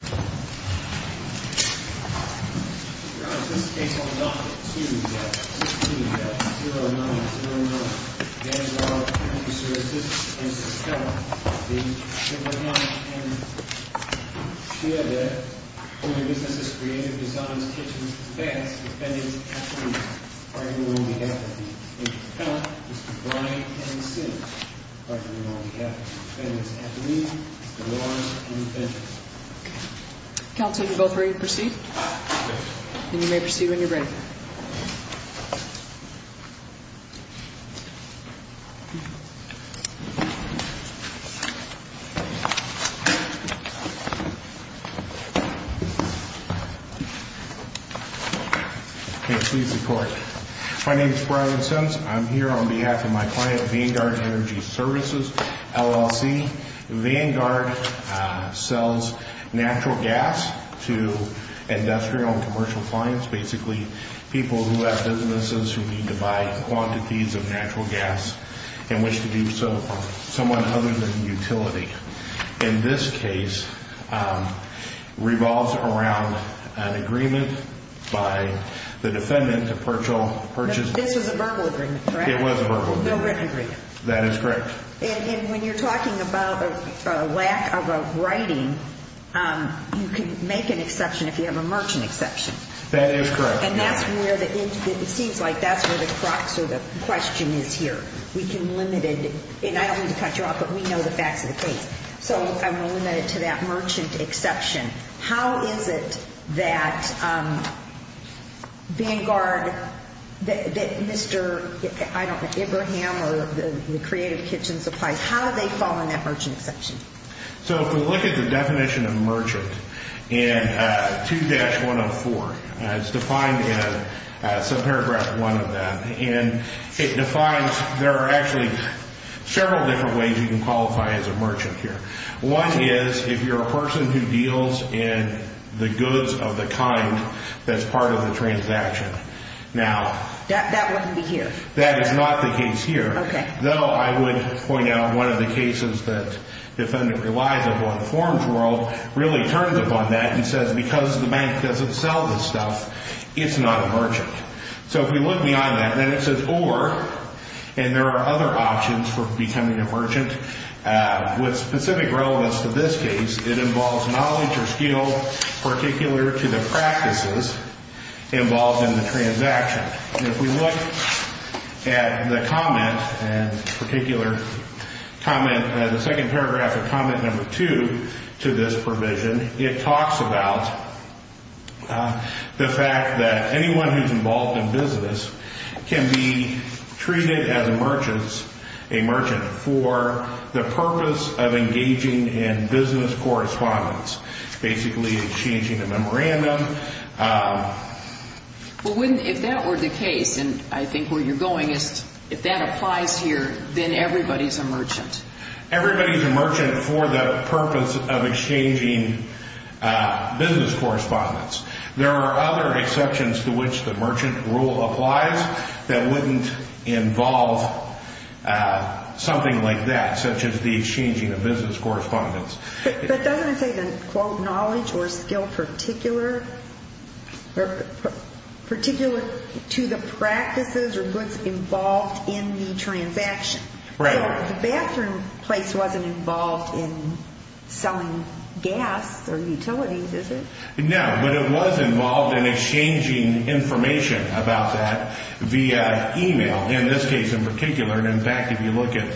Shihadeh, Owner, Businesses, Creative Designs, Kitchens, Baths, Defendants, Athletes, Lawyers, and Defendants. Counsel, you're both ready to proceed? Yes. Okay, please report. My name is Brian Sims. I'm here on behalf of my client, Vanguard Energy Services, LLC. Vanguard sells natural gas to industrial and commercial clients. Basically, people who have businesses who need to buy quantities of natural gas and wish to do so from someone other than utility. In this case, revolves around an agreement by the defendant to purchase... This was a verbal agreement, correct? It was a verbal agreement. No written agreement. That is correct. When you're talking about a lack of a writing, you can make an exception if you have a merchant exception. That is correct. It seems like that's where the crux of the question is here. We can limit it. I don't mean to cut you off, but we know the facts of the case. I'm going to limit it to that merchant exception. How is it that Vanguard, that Mr. I don't know, Abraham or the Creative Kitchen Supplies, how do they fall in that merchant exception? If we look at the definition of merchant in 2-104, it's defined in subparagraph one of that. It defines... There are actually several different ways you can qualify as a merchant here. One is if you're a person who deals in the goods of the kind that's part of the transaction. Now... That wouldn't be here. That is not the case here. Okay. Though I would point out one of the cases that the defendant relies upon, the forms world, really turns upon that and says, because the bank doesn't sell this stuff, it's not a merchant. If we look beyond that, then it says or, and there are other options for becoming a merchant with specific relevance to this case. It involves knowledge or skill particular to the practices involved in the transaction. If we look at the comment and particular comment, the second paragraph of comment number two to this provision, it talks about the fact that anyone who's involved in business can be treated as a merchant for the purpose of engaging in business correspondence, basically exchanging a memorandum. Well, if that were the case, and I think where you're going is if that applies here, then everybody's a merchant. Everybody's a merchant for the purpose of exchanging business correspondence. There are other exceptions to which the merchant rule applies that wouldn't involve something like that, such as the exchanging of business correspondence. But doesn't it say that, quote, knowledge or skill particular to the practices or goods involved in the transaction? Right. The bathroom place wasn't involved in selling gas or utilities, is it? No, but it was involved in exchanging information about that via email, in this case in particular. In fact, if you look at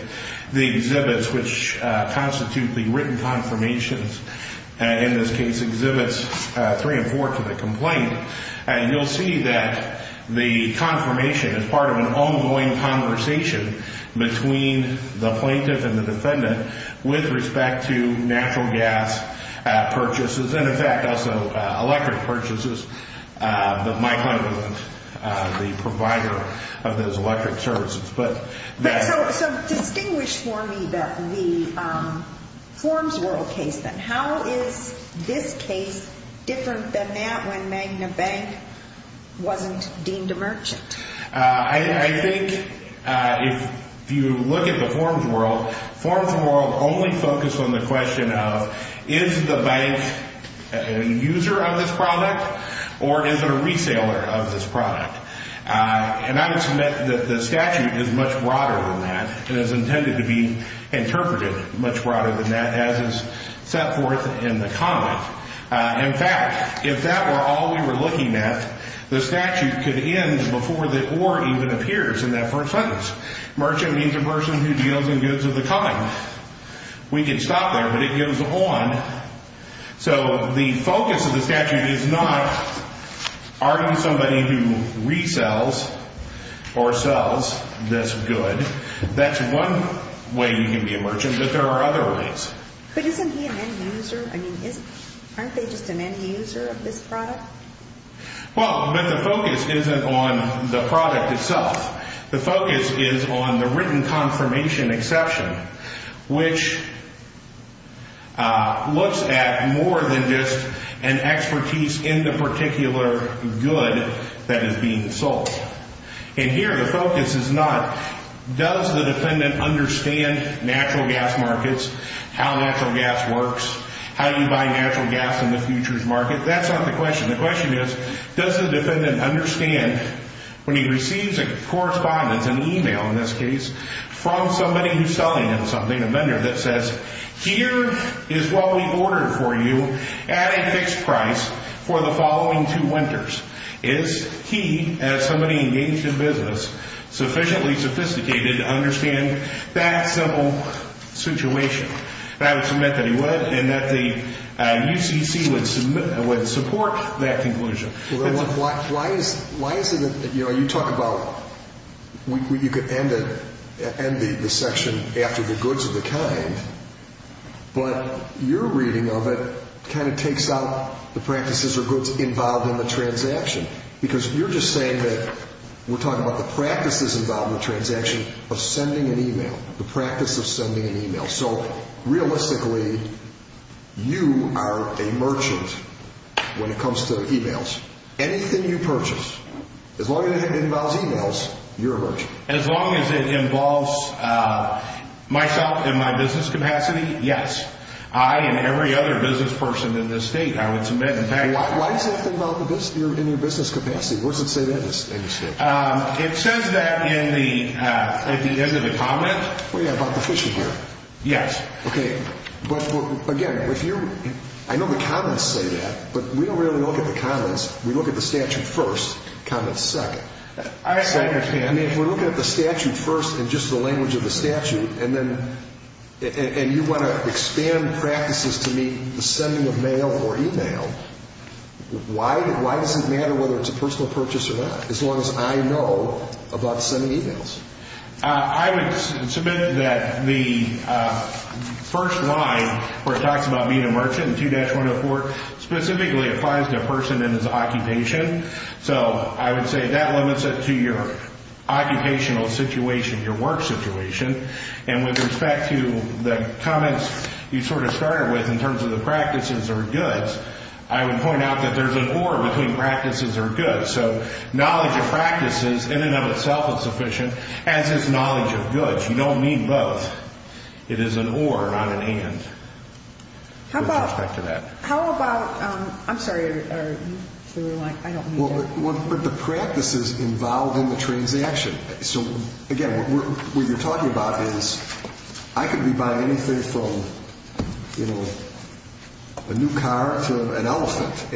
the exhibits which constitute the written confirmations, in this case exhibits three and four to the complaint, you'll see that the confirmation is part of an ongoing conversation between the plaintiff and the defendant with respect to natural gas purchases. And in fact, also electric purchases, but Mike Hunter was the provider of those electric services. So distinguish for me the Forms World case, then. How is this case different than that when Magna Bank wasn't deemed a merchant? I think if you look at the Forms World, Forms World only focused on the question of is the client a user of this product or is it a resaler of this product? And I would submit that the statute is much broader than that and is intended to be interpreted much broader than that, as is set forth in the comment. In fact, if that were all we were looking at, the statute could end before the or even appears in that first sentence. Merchant means a person who deals in goods of the coming. We can stop there, but it goes on. So the focus of the statute is not are you somebody who resells or sells this good. That's one way you can be a merchant, but there are other ways. But isn't he an end user? I mean, aren't they just an end user of this product? Well, but the focus isn't on the product itself. The focus is on the written confirmation exception, which looks at more than just an expertise in the particular good that is being sold. And here the focus is not does the defendant understand natural gas markets, how natural gas works, how you buy natural gas in the futures market. That's not the question. The question is, does the defendant understand when he receives a correspondence, an email in this case, from somebody who's selling him something, a vendor that says, here is what we ordered for you at a fixed price for the following two winters. Is he, as somebody engaged in business, sufficiently sophisticated to understand that simple situation? I would submit that he would, and that the UCC would support that conclusion. Why is it that you talk about you could end the section after the goods of the kind, but your reading of it kind of takes out the practices or goods involved in the transaction, because you're just saying that we're talking about the practices involved in the transaction of sending an email, the practice of sending an email. So, realistically, you are a merchant when it comes to emails. Anything you purchase, as long as it involves emails, you're a merchant. As long as it involves myself and my business capacity, yes. I, and every other business person in this state, I would submit that. Why is it that you're in your business capacity? What does it say there? It says that at the end of the comment. What do you have about the fishing gear? Yes. Okay. But, again, if you're, I know the comments say that, but we don't really look at the comments. We look at the statute first, comments second. I understand. I mean, if we're looking at the statute first and just the language of the statute, and then, and you want to expand practices to meet the sending of mail or email, why does it matter whether it's a personal purchase or not, as long as I know about sending emails? I would submit that the first line where it talks about being a merchant, 2-104, specifically applies to a person and his occupation. So I would say that limits it to your occupational situation, your work situation. And with respect to the comments you sort of started with in terms of the practices or goods, I would point out that there's an or between practices or goods. So knowledge of practices in and of itself is sufficient, as is knowledge of goods. You don't need both. It is an or, not an and, with respect to that. How about, I'm sorry, are you through? I don't need that. Well, but the practices involve in the transaction. So, again, what you're talking about is I could be buying anything from, you know, a new car to an elephant,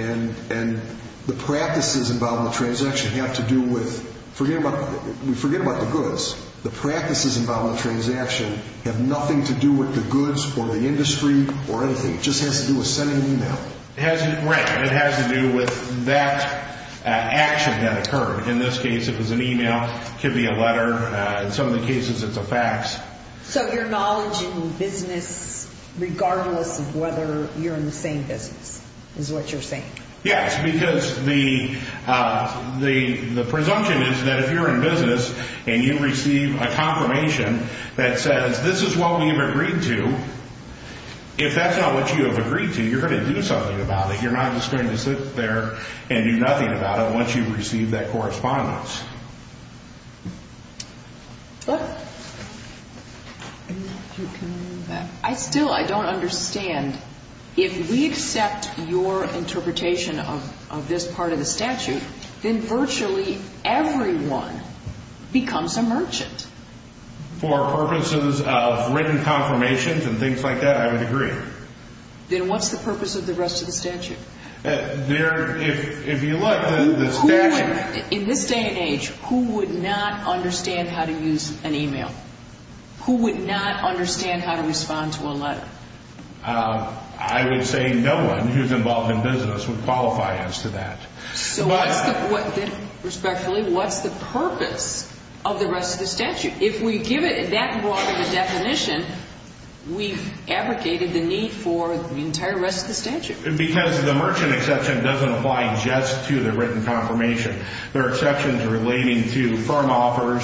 and the practices involved in the transaction have to do with, forget about the goods, the practices involved in the transaction have nothing to do with the goods or the industry or anything. It just has to do with sending an email. Right. It has to do with that action that occurred. In this case, it was an email. It could be a letter. In some of the cases, it's a fax. So your knowledge in business, regardless of whether you're in the same business, is what you're saying? Yes, because the presumption is that if you're in business and you receive a confirmation that says, this is what we have agreed to, if that's not what you have agreed to, you're going to do something about it. You're not just going to sit there and do nothing about it once you receive that correspondence. I still don't understand. If we accept your interpretation of this part of the statute, then virtually everyone becomes a merchant. For purposes of written confirmations and things like that, I would agree. Then what's the purpose of the rest of the statute? If you look, the statute... In this day and age, who would not understand how to use an email? Who would not understand how to respond to a letter? I would say no one who's involved in business would qualify as to that. Respectfully, what's the purpose of the rest of the statute? If we give it that broad of a definition, we've abrogated the need for the entire rest of the statute. Because the merchant exception doesn't apply just to the written confirmation. There are exceptions relating to firm offers,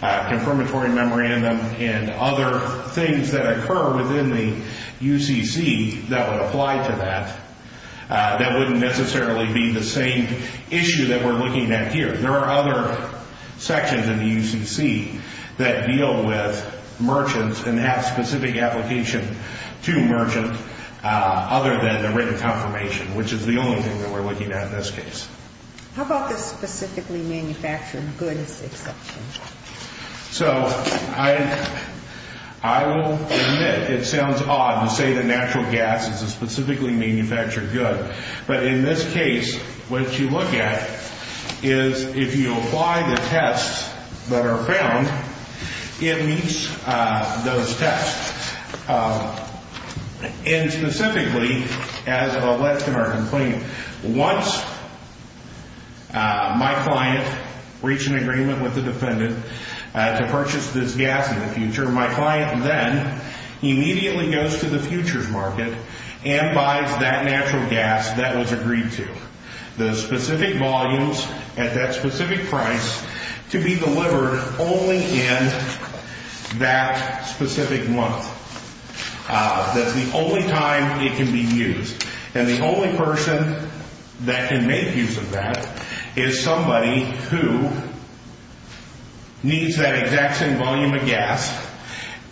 confirmatory memorandum, and other things that occur within the UCC that would apply to that. That wouldn't necessarily be the same issue that we're looking at here. There are other sections in the UCC that deal with merchants and have specific application to merchants other than the written confirmation, which is the only thing that we're looking at in this case. How about the specifically manufactured goods exception? I will admit it sounds odd to say that natural gas is a specifically manufactured good. But in this case, what you look at is if you apply the tests that are found, it meets those tests. Specifically, as alleged in our complaint, once my client reached an agreement with the defendant to purchase this gas in the future, my client then immediately goes to the futures market and buys that natural gas that was agreed to. The specific volumes at that specific price to be delivered only in that specific month. That's the only time it can be used. And the only person that can make use of that is somebody who needs that exact same volume of gas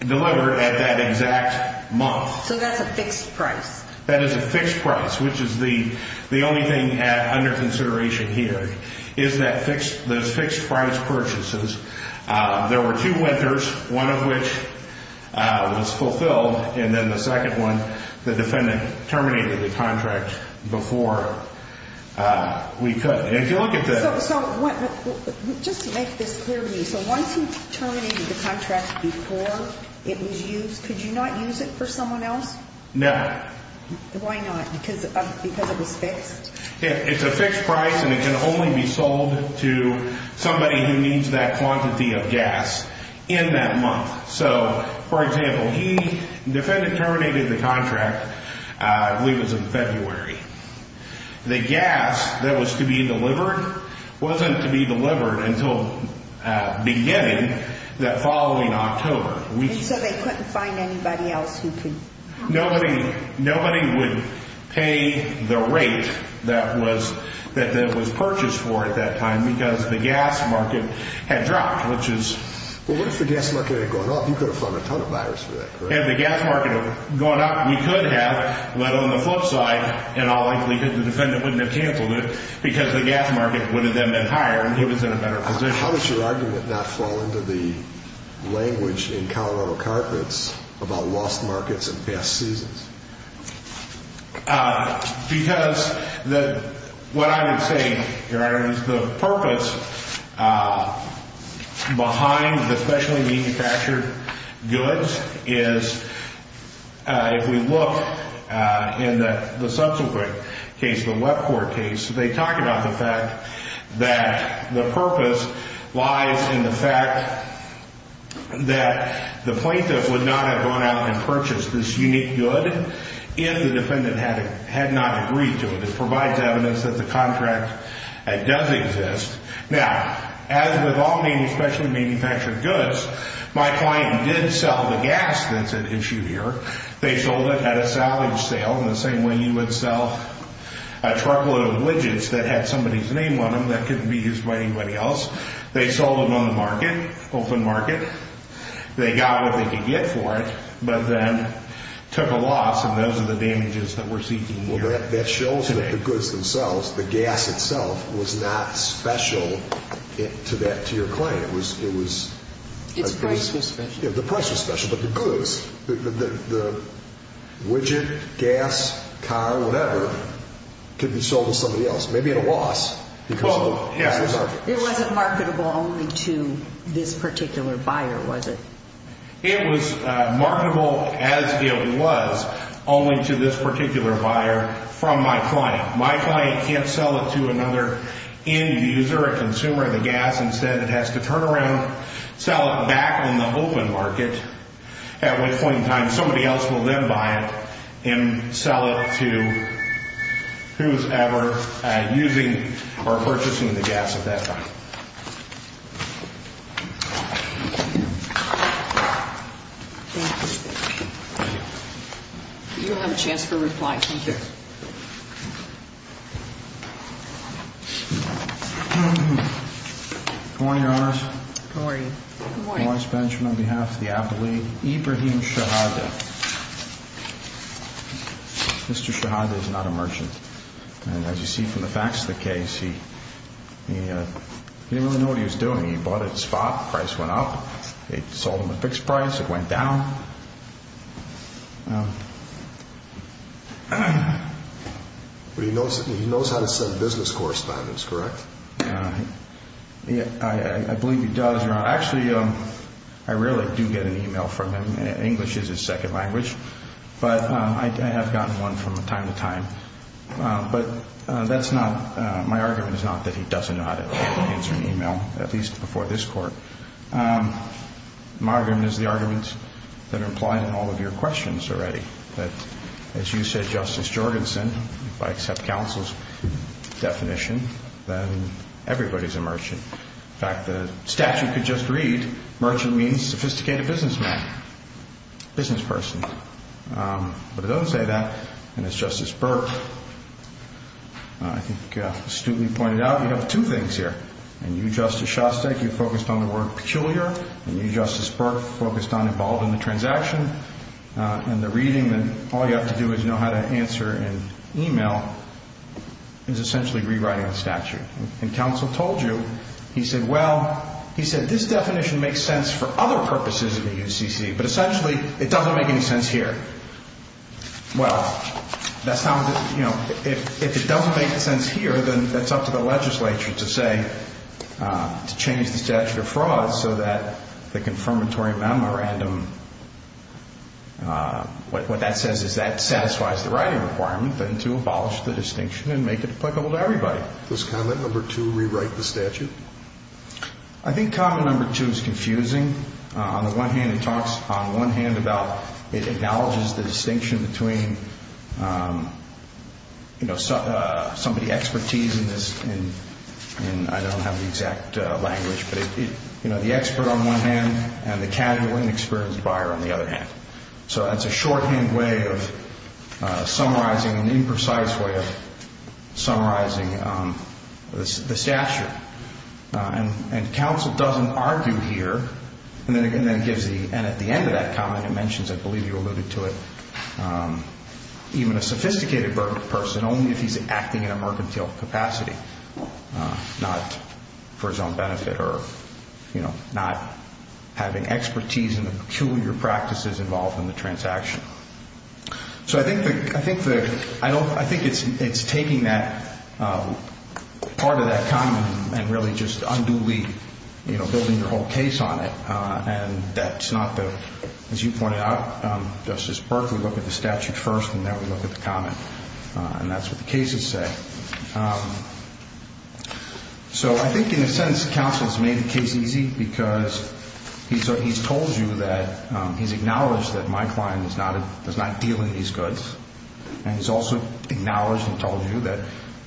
delivered at that exact month. So that's a fixed price. That is a fixed price, which is the only thing under consideration here, is those fixed price purchases. There were two winters, one of which was fulfilled. And then the second one, the defendant terminated the contract before we could. If you look at the... So just to make this clear to me, so once he terminated the contract before it was used, could you not use it for someone else? No. Why not? Because it was fixed? It's a fixed price and it can only be sold to somebody who needs that quantity of gas in that month. So, for example, he, the defendant terminated the contract, I believe it was in February. The gas that was to be delivered wasn't to be delivered until beginning the following October. And so they couldn't find anybody else who could? Nobody would pay the rate that was purchased for at that time because the gas market had dropped, which is... Well, what if the gas market had gone up? You could have found a ton of buyers for that, correct? If the gas market had gone up, we could have, but on the flip side, in all likelihood, the defendant wouldn't have canceled it because the gas market would have then been higher and he was in a better position. How does your argument not fall into the language in Colorado carpets about lost markets and past seasons? Because what I would say, Your Honor, is the purpose behind the specially manufactured goods is, if we look in the subsequent case, the Web Court case, they talk about the fact that the purpose lies in the fact that the plaintiff would not have gone out and purchased this unique good if the defendant had not agreed to it. It provides evidence that the contract does exist. Now, as with all specially manufactured goods, my client did sell the gas that's at issue here. They sold it at a salvage sale in the same way you would sell a truckload of widgets that had somebody's name on them that couldn't be used by anybody else. They sold them on the market, open market. They got what they could get for it, but then took a loss, and those are the damages that we're seeking here. Well, that shows that the goods themselves, the gas itself, was not special to your client. It was... Its price was special. The price was special, but the goods, the widget, gas, car, whatever, could be sold to somebody else, maybe at a loss. Oh, yes. It wasn't marketable only to this particular buyer, was it? It was marketable as it was only to this particular buyer from my client. My client can't sell it to another end user, a consumer of the gas. Instead, it has to turn around, sell it back on the open market at which point in time somebody else will then buy it and sell it to whosoever is using or purchasing the gas at that time. Thank you. Thank you. You'll have a chance for a reply. Thank you. Good morning, Your Honors. Good morning. Good morning. On behalf of the Apple League, Ibrahim Shahada. Mr. Shahada is not a merchant, and as you see from the facts of the case, he didn't really know what he was doing. He bought it spot, price went up, it sold him a fixed price, it went down. He knows how to send business correspondence, correct? I believe he does. Actually, I rarely do get an email from him. English is his second language, but I have gotten one from time to time. But my argument is not that he doesn't know how to answer an email, at least before this court. My argument is the arguments that are implied in all of your questions already. As you said, Justice Jorgensen, if I accept counsel's definition, then everybody is a merchant. In fact, the statute could just read merchant means sophisticated businessman, business person. But it doesn't say that. And as Justice Burke astutely pointed out, you have two things here. And you, Justice Shostak, you focused on the word peculiar. And you, Justice Burke, focused on involved in the transaction. And the reading that all you have to do is know how to answer in email is essentially rewriting the statute. And counsel told you, he said, well, he said this definition makes sense for other purposes in the UCC, but essentially it doesn't make any sense here. Well, if it doesn't make sense here, then that's up to the legislature to say, to change the statute of fraud so that the confirmatory memorandum, what that says is that satisfies the writing requirement then to abolish the distinction and make it applicable to everybody. Does comment number two rewrite the statute? I think comment number two is confusing. On the one hand, it talks on one hand about it acknowledges the distinction between, you know, somebody's expertise in this and I don't have the exact language. But, you know, the expert on one hand and the casual and experienced buyer on the other hand. So that's a shorthand way of summarizing, an imprecise way of summarizing the statute. And counsel doesn't argue here. And at the end of that comment it mentions, I believe you alluded to it, even a sophisticated person only if he's acting in a mercantile capacity, not for his own benefit or, you know, not having expertise in the peculiar practices involved in the transaction. So I think it's taking that part of that comment and really just unduly, you know, building your whole case on it. And that's not the, as you pointed out, Justice Burke, we look at the statute first and then we look at the comment. And that's what the cases say. So I think in a sense counsel's made the case easy because he's told you that, he's acknowledged that my client does not deal in these goods. And he's also acknowledged and told you that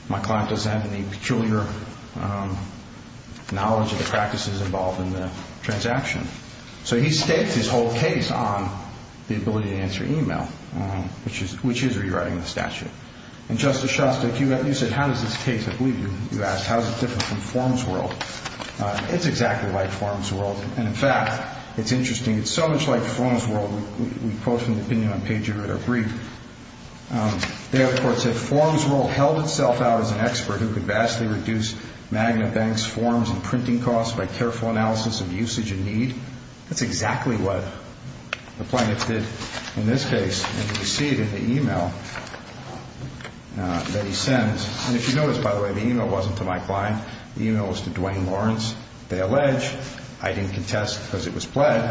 my client doesn't have any peculiar knowledge of the practices involved in the transaction. So he stakes his whole case on the ability to answer email, which is rewriting the statute. And Justice Shostak, you said how does this case, I believe you asked, how is it different from forms world. It's exactly like forms world. And, in fact, it's interesting. It's so much like forms world. We quote from the opinion on page three of our brief. They, of course, said forms world held itself out as an expert who could vastly reduce magnet banks, forms, and printing costs by careful analysis of usage and need. That's exactly what the plaintiff did in this case. And you can see it in the email that he sends. And if you notice, by the way, the email wasn't to my client. The email was to Duane Lawrence. They allege, I didn't contest because it was pled,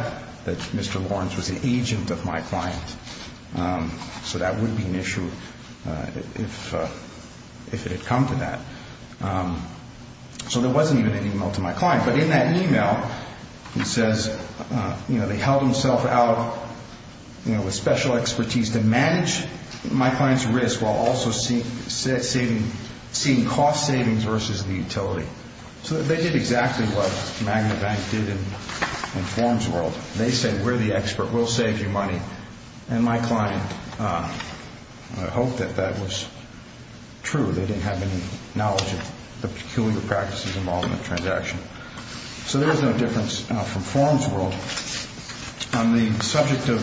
that Mr. Lawrence was an agent of my client. So that would be an issue if it had come to that. So there wasn't even an email to my client. But in that email, he says, you know, they held himself out, you know, with special expertise to manage my client's risk while also seeing cost savings versus the utility. So they did exactly what magnet bank did in forms world. They said we're the expert. We'll save you money. And my client hoped that that was true. They didn't have any knowledge of the peculiar practices involved in the transaction. So there was no difference from forms world. On the subject of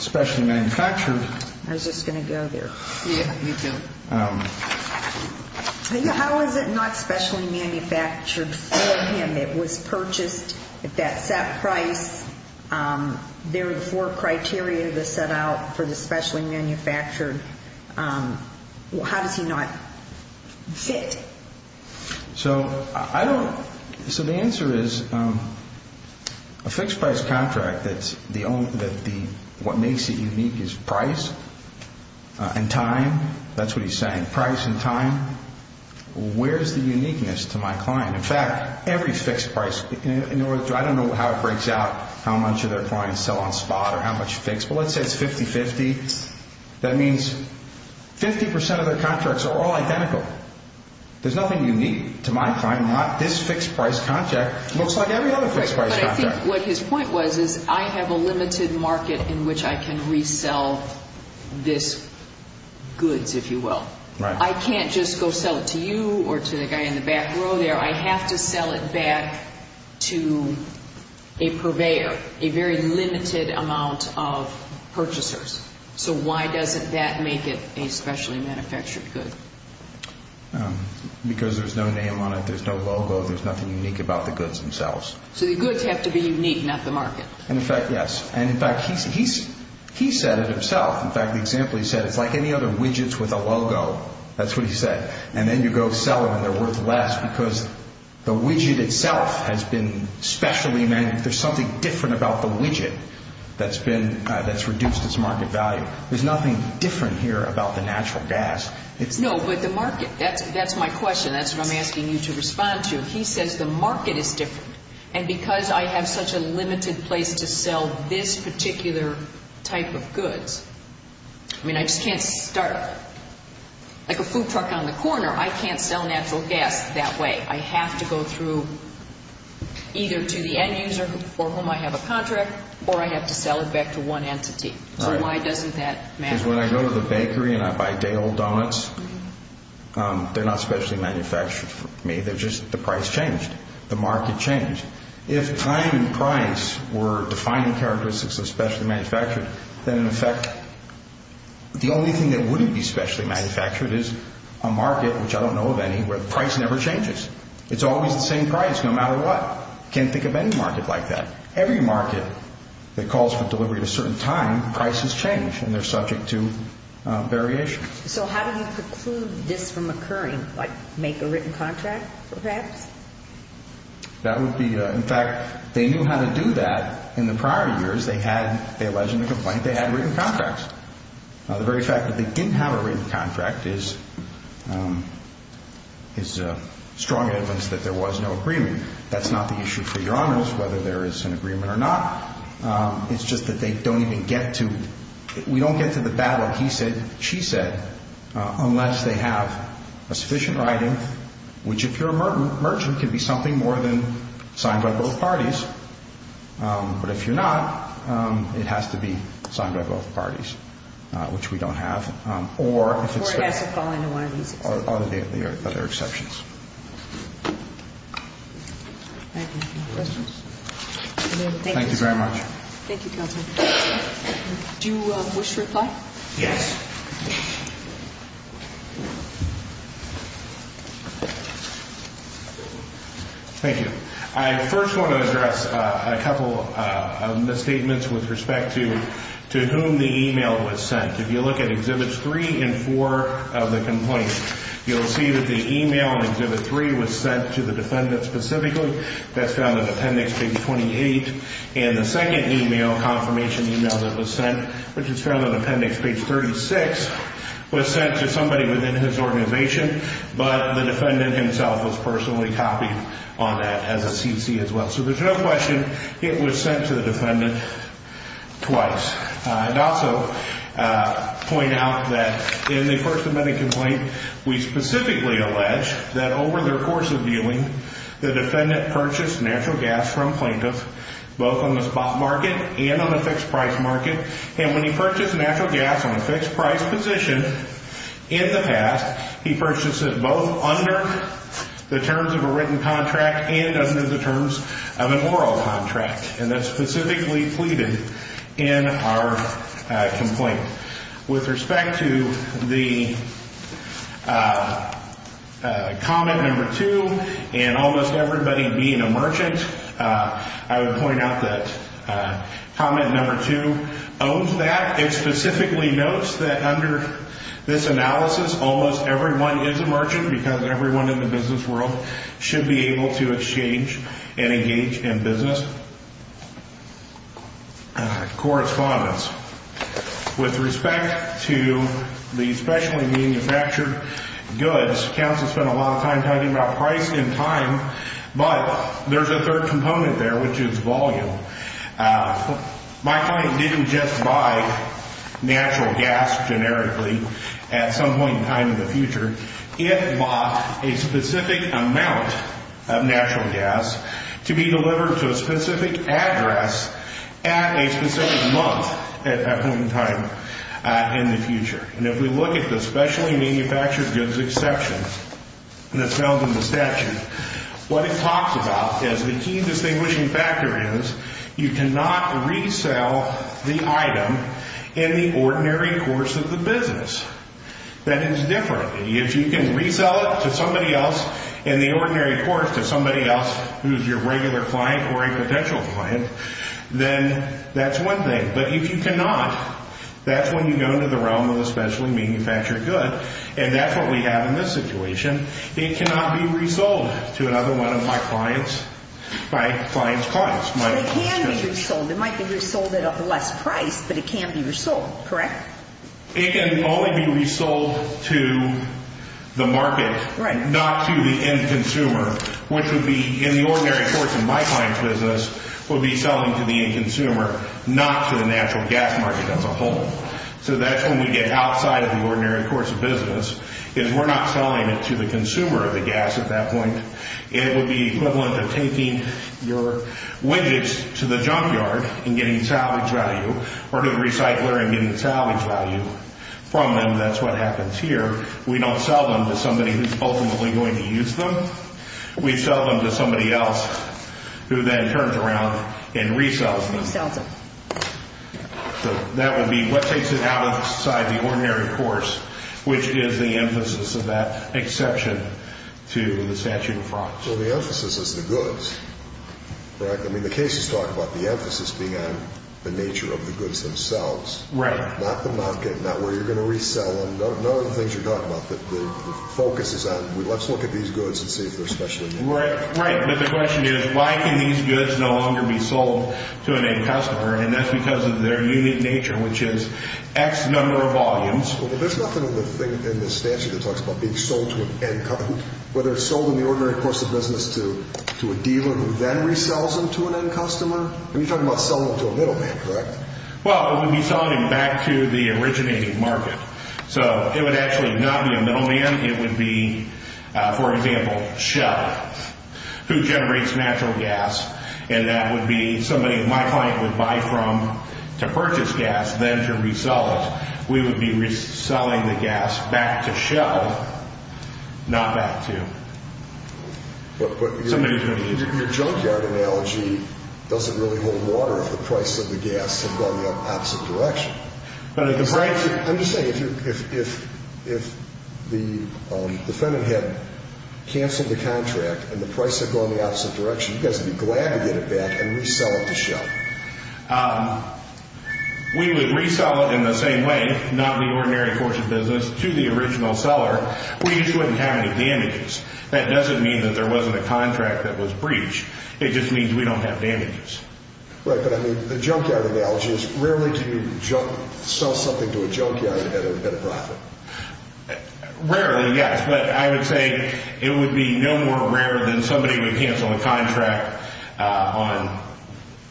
specially manufactured. I was just going to go there. Yeah, you do. How is it not specially manufactured for him? It was purchased at that set price. There were four criteria that set out for the specially manufactured. How does he not fit? So I don't. So the answer is a fixed price contract that's the only, that the, what makes it unique is price and time. That's what he's saying. Price and time. Where's the uniqueness to my client? In fact, every fixed price. I don't know how it breaks out, how much of their clients sell on spot or how much fixed. But let's say it's 50-50. That means 50% of their contracts are all identical. There's nothing unique to my client. This fixed price contract looks like every other fixed price contract. But I think what his point was is I have a limited market in which I can resell this goods, if you will. Right. I can't just go sell it to you or to the guy in the back row there. I have to sell it back to a purveyor, a very limited amount of purchasers. So why doesn't that make it a specially manufactured good? Because there's no name on it, there's no logo, there's nothing unique about the goods themselves. So the goods have to be unique, not the market. In fact, yes. In fact, he said it himself. In fact, the example he said, it's like any other widgets with a logo. That's what he said. And then you go sell them and they're worth less because the widget itself has been specially manufactured. There's something different about the widget that's reduced its market value. There's nothing different here about the natural gas. No, but the market. That's my question. That's what I'm asking you to respond to. He says the market is different. And because I have such a limited place to sell this particular type of goods, I mean, I just can't start up. Like a food truck on the corner, I can't sell natural gas that way. I have to go through either to the end user for whom I have a contract or I have to sell it back to one entity. So why doesn't that matter? Because when I go to the bakery and I buy day-old donuts, they're not specially manufactured for me. They're just the price changed. The market changed. If time and price were defining characteristics of specially manufactured, then, in effect, the only thing that wouldn't be specially manufactured is a market, which I don't know of any, where the price never changes. It's always the same price no matter what. Can't think of any market like that. Every market that calls for delivery at a certain time, prices change and they're subject to variation. So how do you preclude this from occurring? Like make a written contract, perhaps? That would be, in fact, they knew how to do that in the prior years. They had, they alleged in the complaint, they had written contracts. The very fact that they didn't have a written contract is strong evidence that there was no agreement. That's not the issue for Your Honors, whether there is an agreement or not. It's just that they don't even get to, we don't get to the ballot. He said, she said, unless they have a sufficient writing, which if you're a merchant, can be something more than signed by both parties. But if you're not, it has to be signed by both parties, which we don't have. Or it has to fall into one of these exceptions. Or the other exceptions. Thank you. Questions? Thank you very much. Thank you, Counselor. Do you wish to reply? Yes. Thank you. I first want to address a couple of misstatements with respect to whom the email was sent. If you look at Exhibits 3 and 4 of the complaint, you'll see that the email in Exhibit 3 was sent to the defendant specifically. That's found in Appendix Page 28. And the second email, confirmation email that was sent, which is found in Appendix Page 36, was sent to somebody within his organization, but the defendant himself was personally copied on that as a CC as well. So there's no question it was sent to the defendant twice. And also point out that in the First Amendment complaint, we specifically allege that over their course of viewing, the defendant purchased natural gas from plaintiffs, both on the spot market and on the fixed price market. And when he purchased natural gas on a fixed price position in the past, he purchased it both under the terms of a written contract and under the terms of an oral contract. And that's specifically pleaded in our complaint. With respect to the comment number two, and almost everybody being a merchant, I would point out that comment number two owns that. It specifically notes that under this analysis, almost everyone is a merchant because everyone in the business world should be able to exchange and engage in business correspondence. With respect to the specially manufactured goods, counsel spent a lot of time talking about price and time, but there's a third component there, which is volume. My client didn't just buy natural gas generically at some point in time in the future. It bought a specific amount of natural gas to be delivered to a specific address at a specific month at that point in time in the future. And if we look at the specially manufactured goods exception that's found in the statute, what it talks about is the key distinguishing factor is you cannot resell the item in the ordinary course of the business. That is different. If you can resell it to somebody else in the ordinary course to somebody else who's your regular client or a potential client, then that's one thing. But if you cannot, that's when you go into the realm of the specially manufactured good, and that's what we have in this situation. It cannot be resold to another one of my client's clients. So it can be resold. It might be resold at a less price, but it can't be resold, correct? It can only be resold to the market, not to the end consumer, which would be in the ordinary course of my client's business would be selling to the end consumer, not to the natural gas market as a whole. So that's when we get outside of the ordinary course of business is we're not selling it to the consumer of the gas at that point. It would be equivalent to taking your widgets to the junkyard and getting salvage value or to the recycler and getting salvage value from them. That's what happens here. We don't sell them to somebody who's ultimately going to use them. We sell them to somebody else who then turns around and resells them. Resells them. So that would be what takes it outside the ordinary course, which is the emphasis of that exception to the statute of frauds. Well, the emphasis is the goods, correct? I mean, the cases talk about the emphasis being on the nature of the goods themselves. Right. Not the market, not where you're going to resell them. None of the things you're talking about. The focus is on let's look at these goods and see if they're specially made. Right, but the question is why can these goods no longer be sold to an end customer, and that's because of their unique nature, which is X number of volumes. Well, there's nothing in the statute that talks about being sold to an end customer. Whether it's sold in the ordinary course of business to a dealer who then resells them to an end customer. You're talking about selling them to a middleman, correct? Well, it would be selling them back to the originating market. So it would actually not be a middleman. It would be, for example, Shell, who generates natural gas, and that would be somebody my client would buy from to purchase gas, then to resell it. We would be reselling the gas back to Shell, not back to somebody who's going to use it. But your junkyard analogy doesn't really hold water if the price of the gas had gone the opposite direction. I'm just saying, if the defendant had canceled the contract and the price had gone the opposite direction, you guys would be glad to get it back and resell it to Shell. We would resell it in the same way, not in the ordinary course of business, to the original seller. We just wouldn't have any damages. That doesn't mean that there wasn't a contract that was breached. It just means we don't have damages. Right, but I mean, the junkyard analogy is rarely can you sell something to a junkyard and get a profit. Rarely, yes, but I would say it would be no more rare than somebody would cancel a contract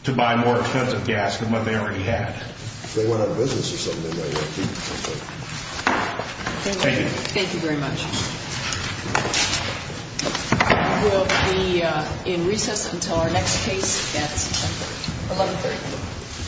to buy more expensive gas than what they already had. If they went out of business or something, they might want to keep the contract. Thank you. Thank you very much. We'll be in recess until our next case at 11-3.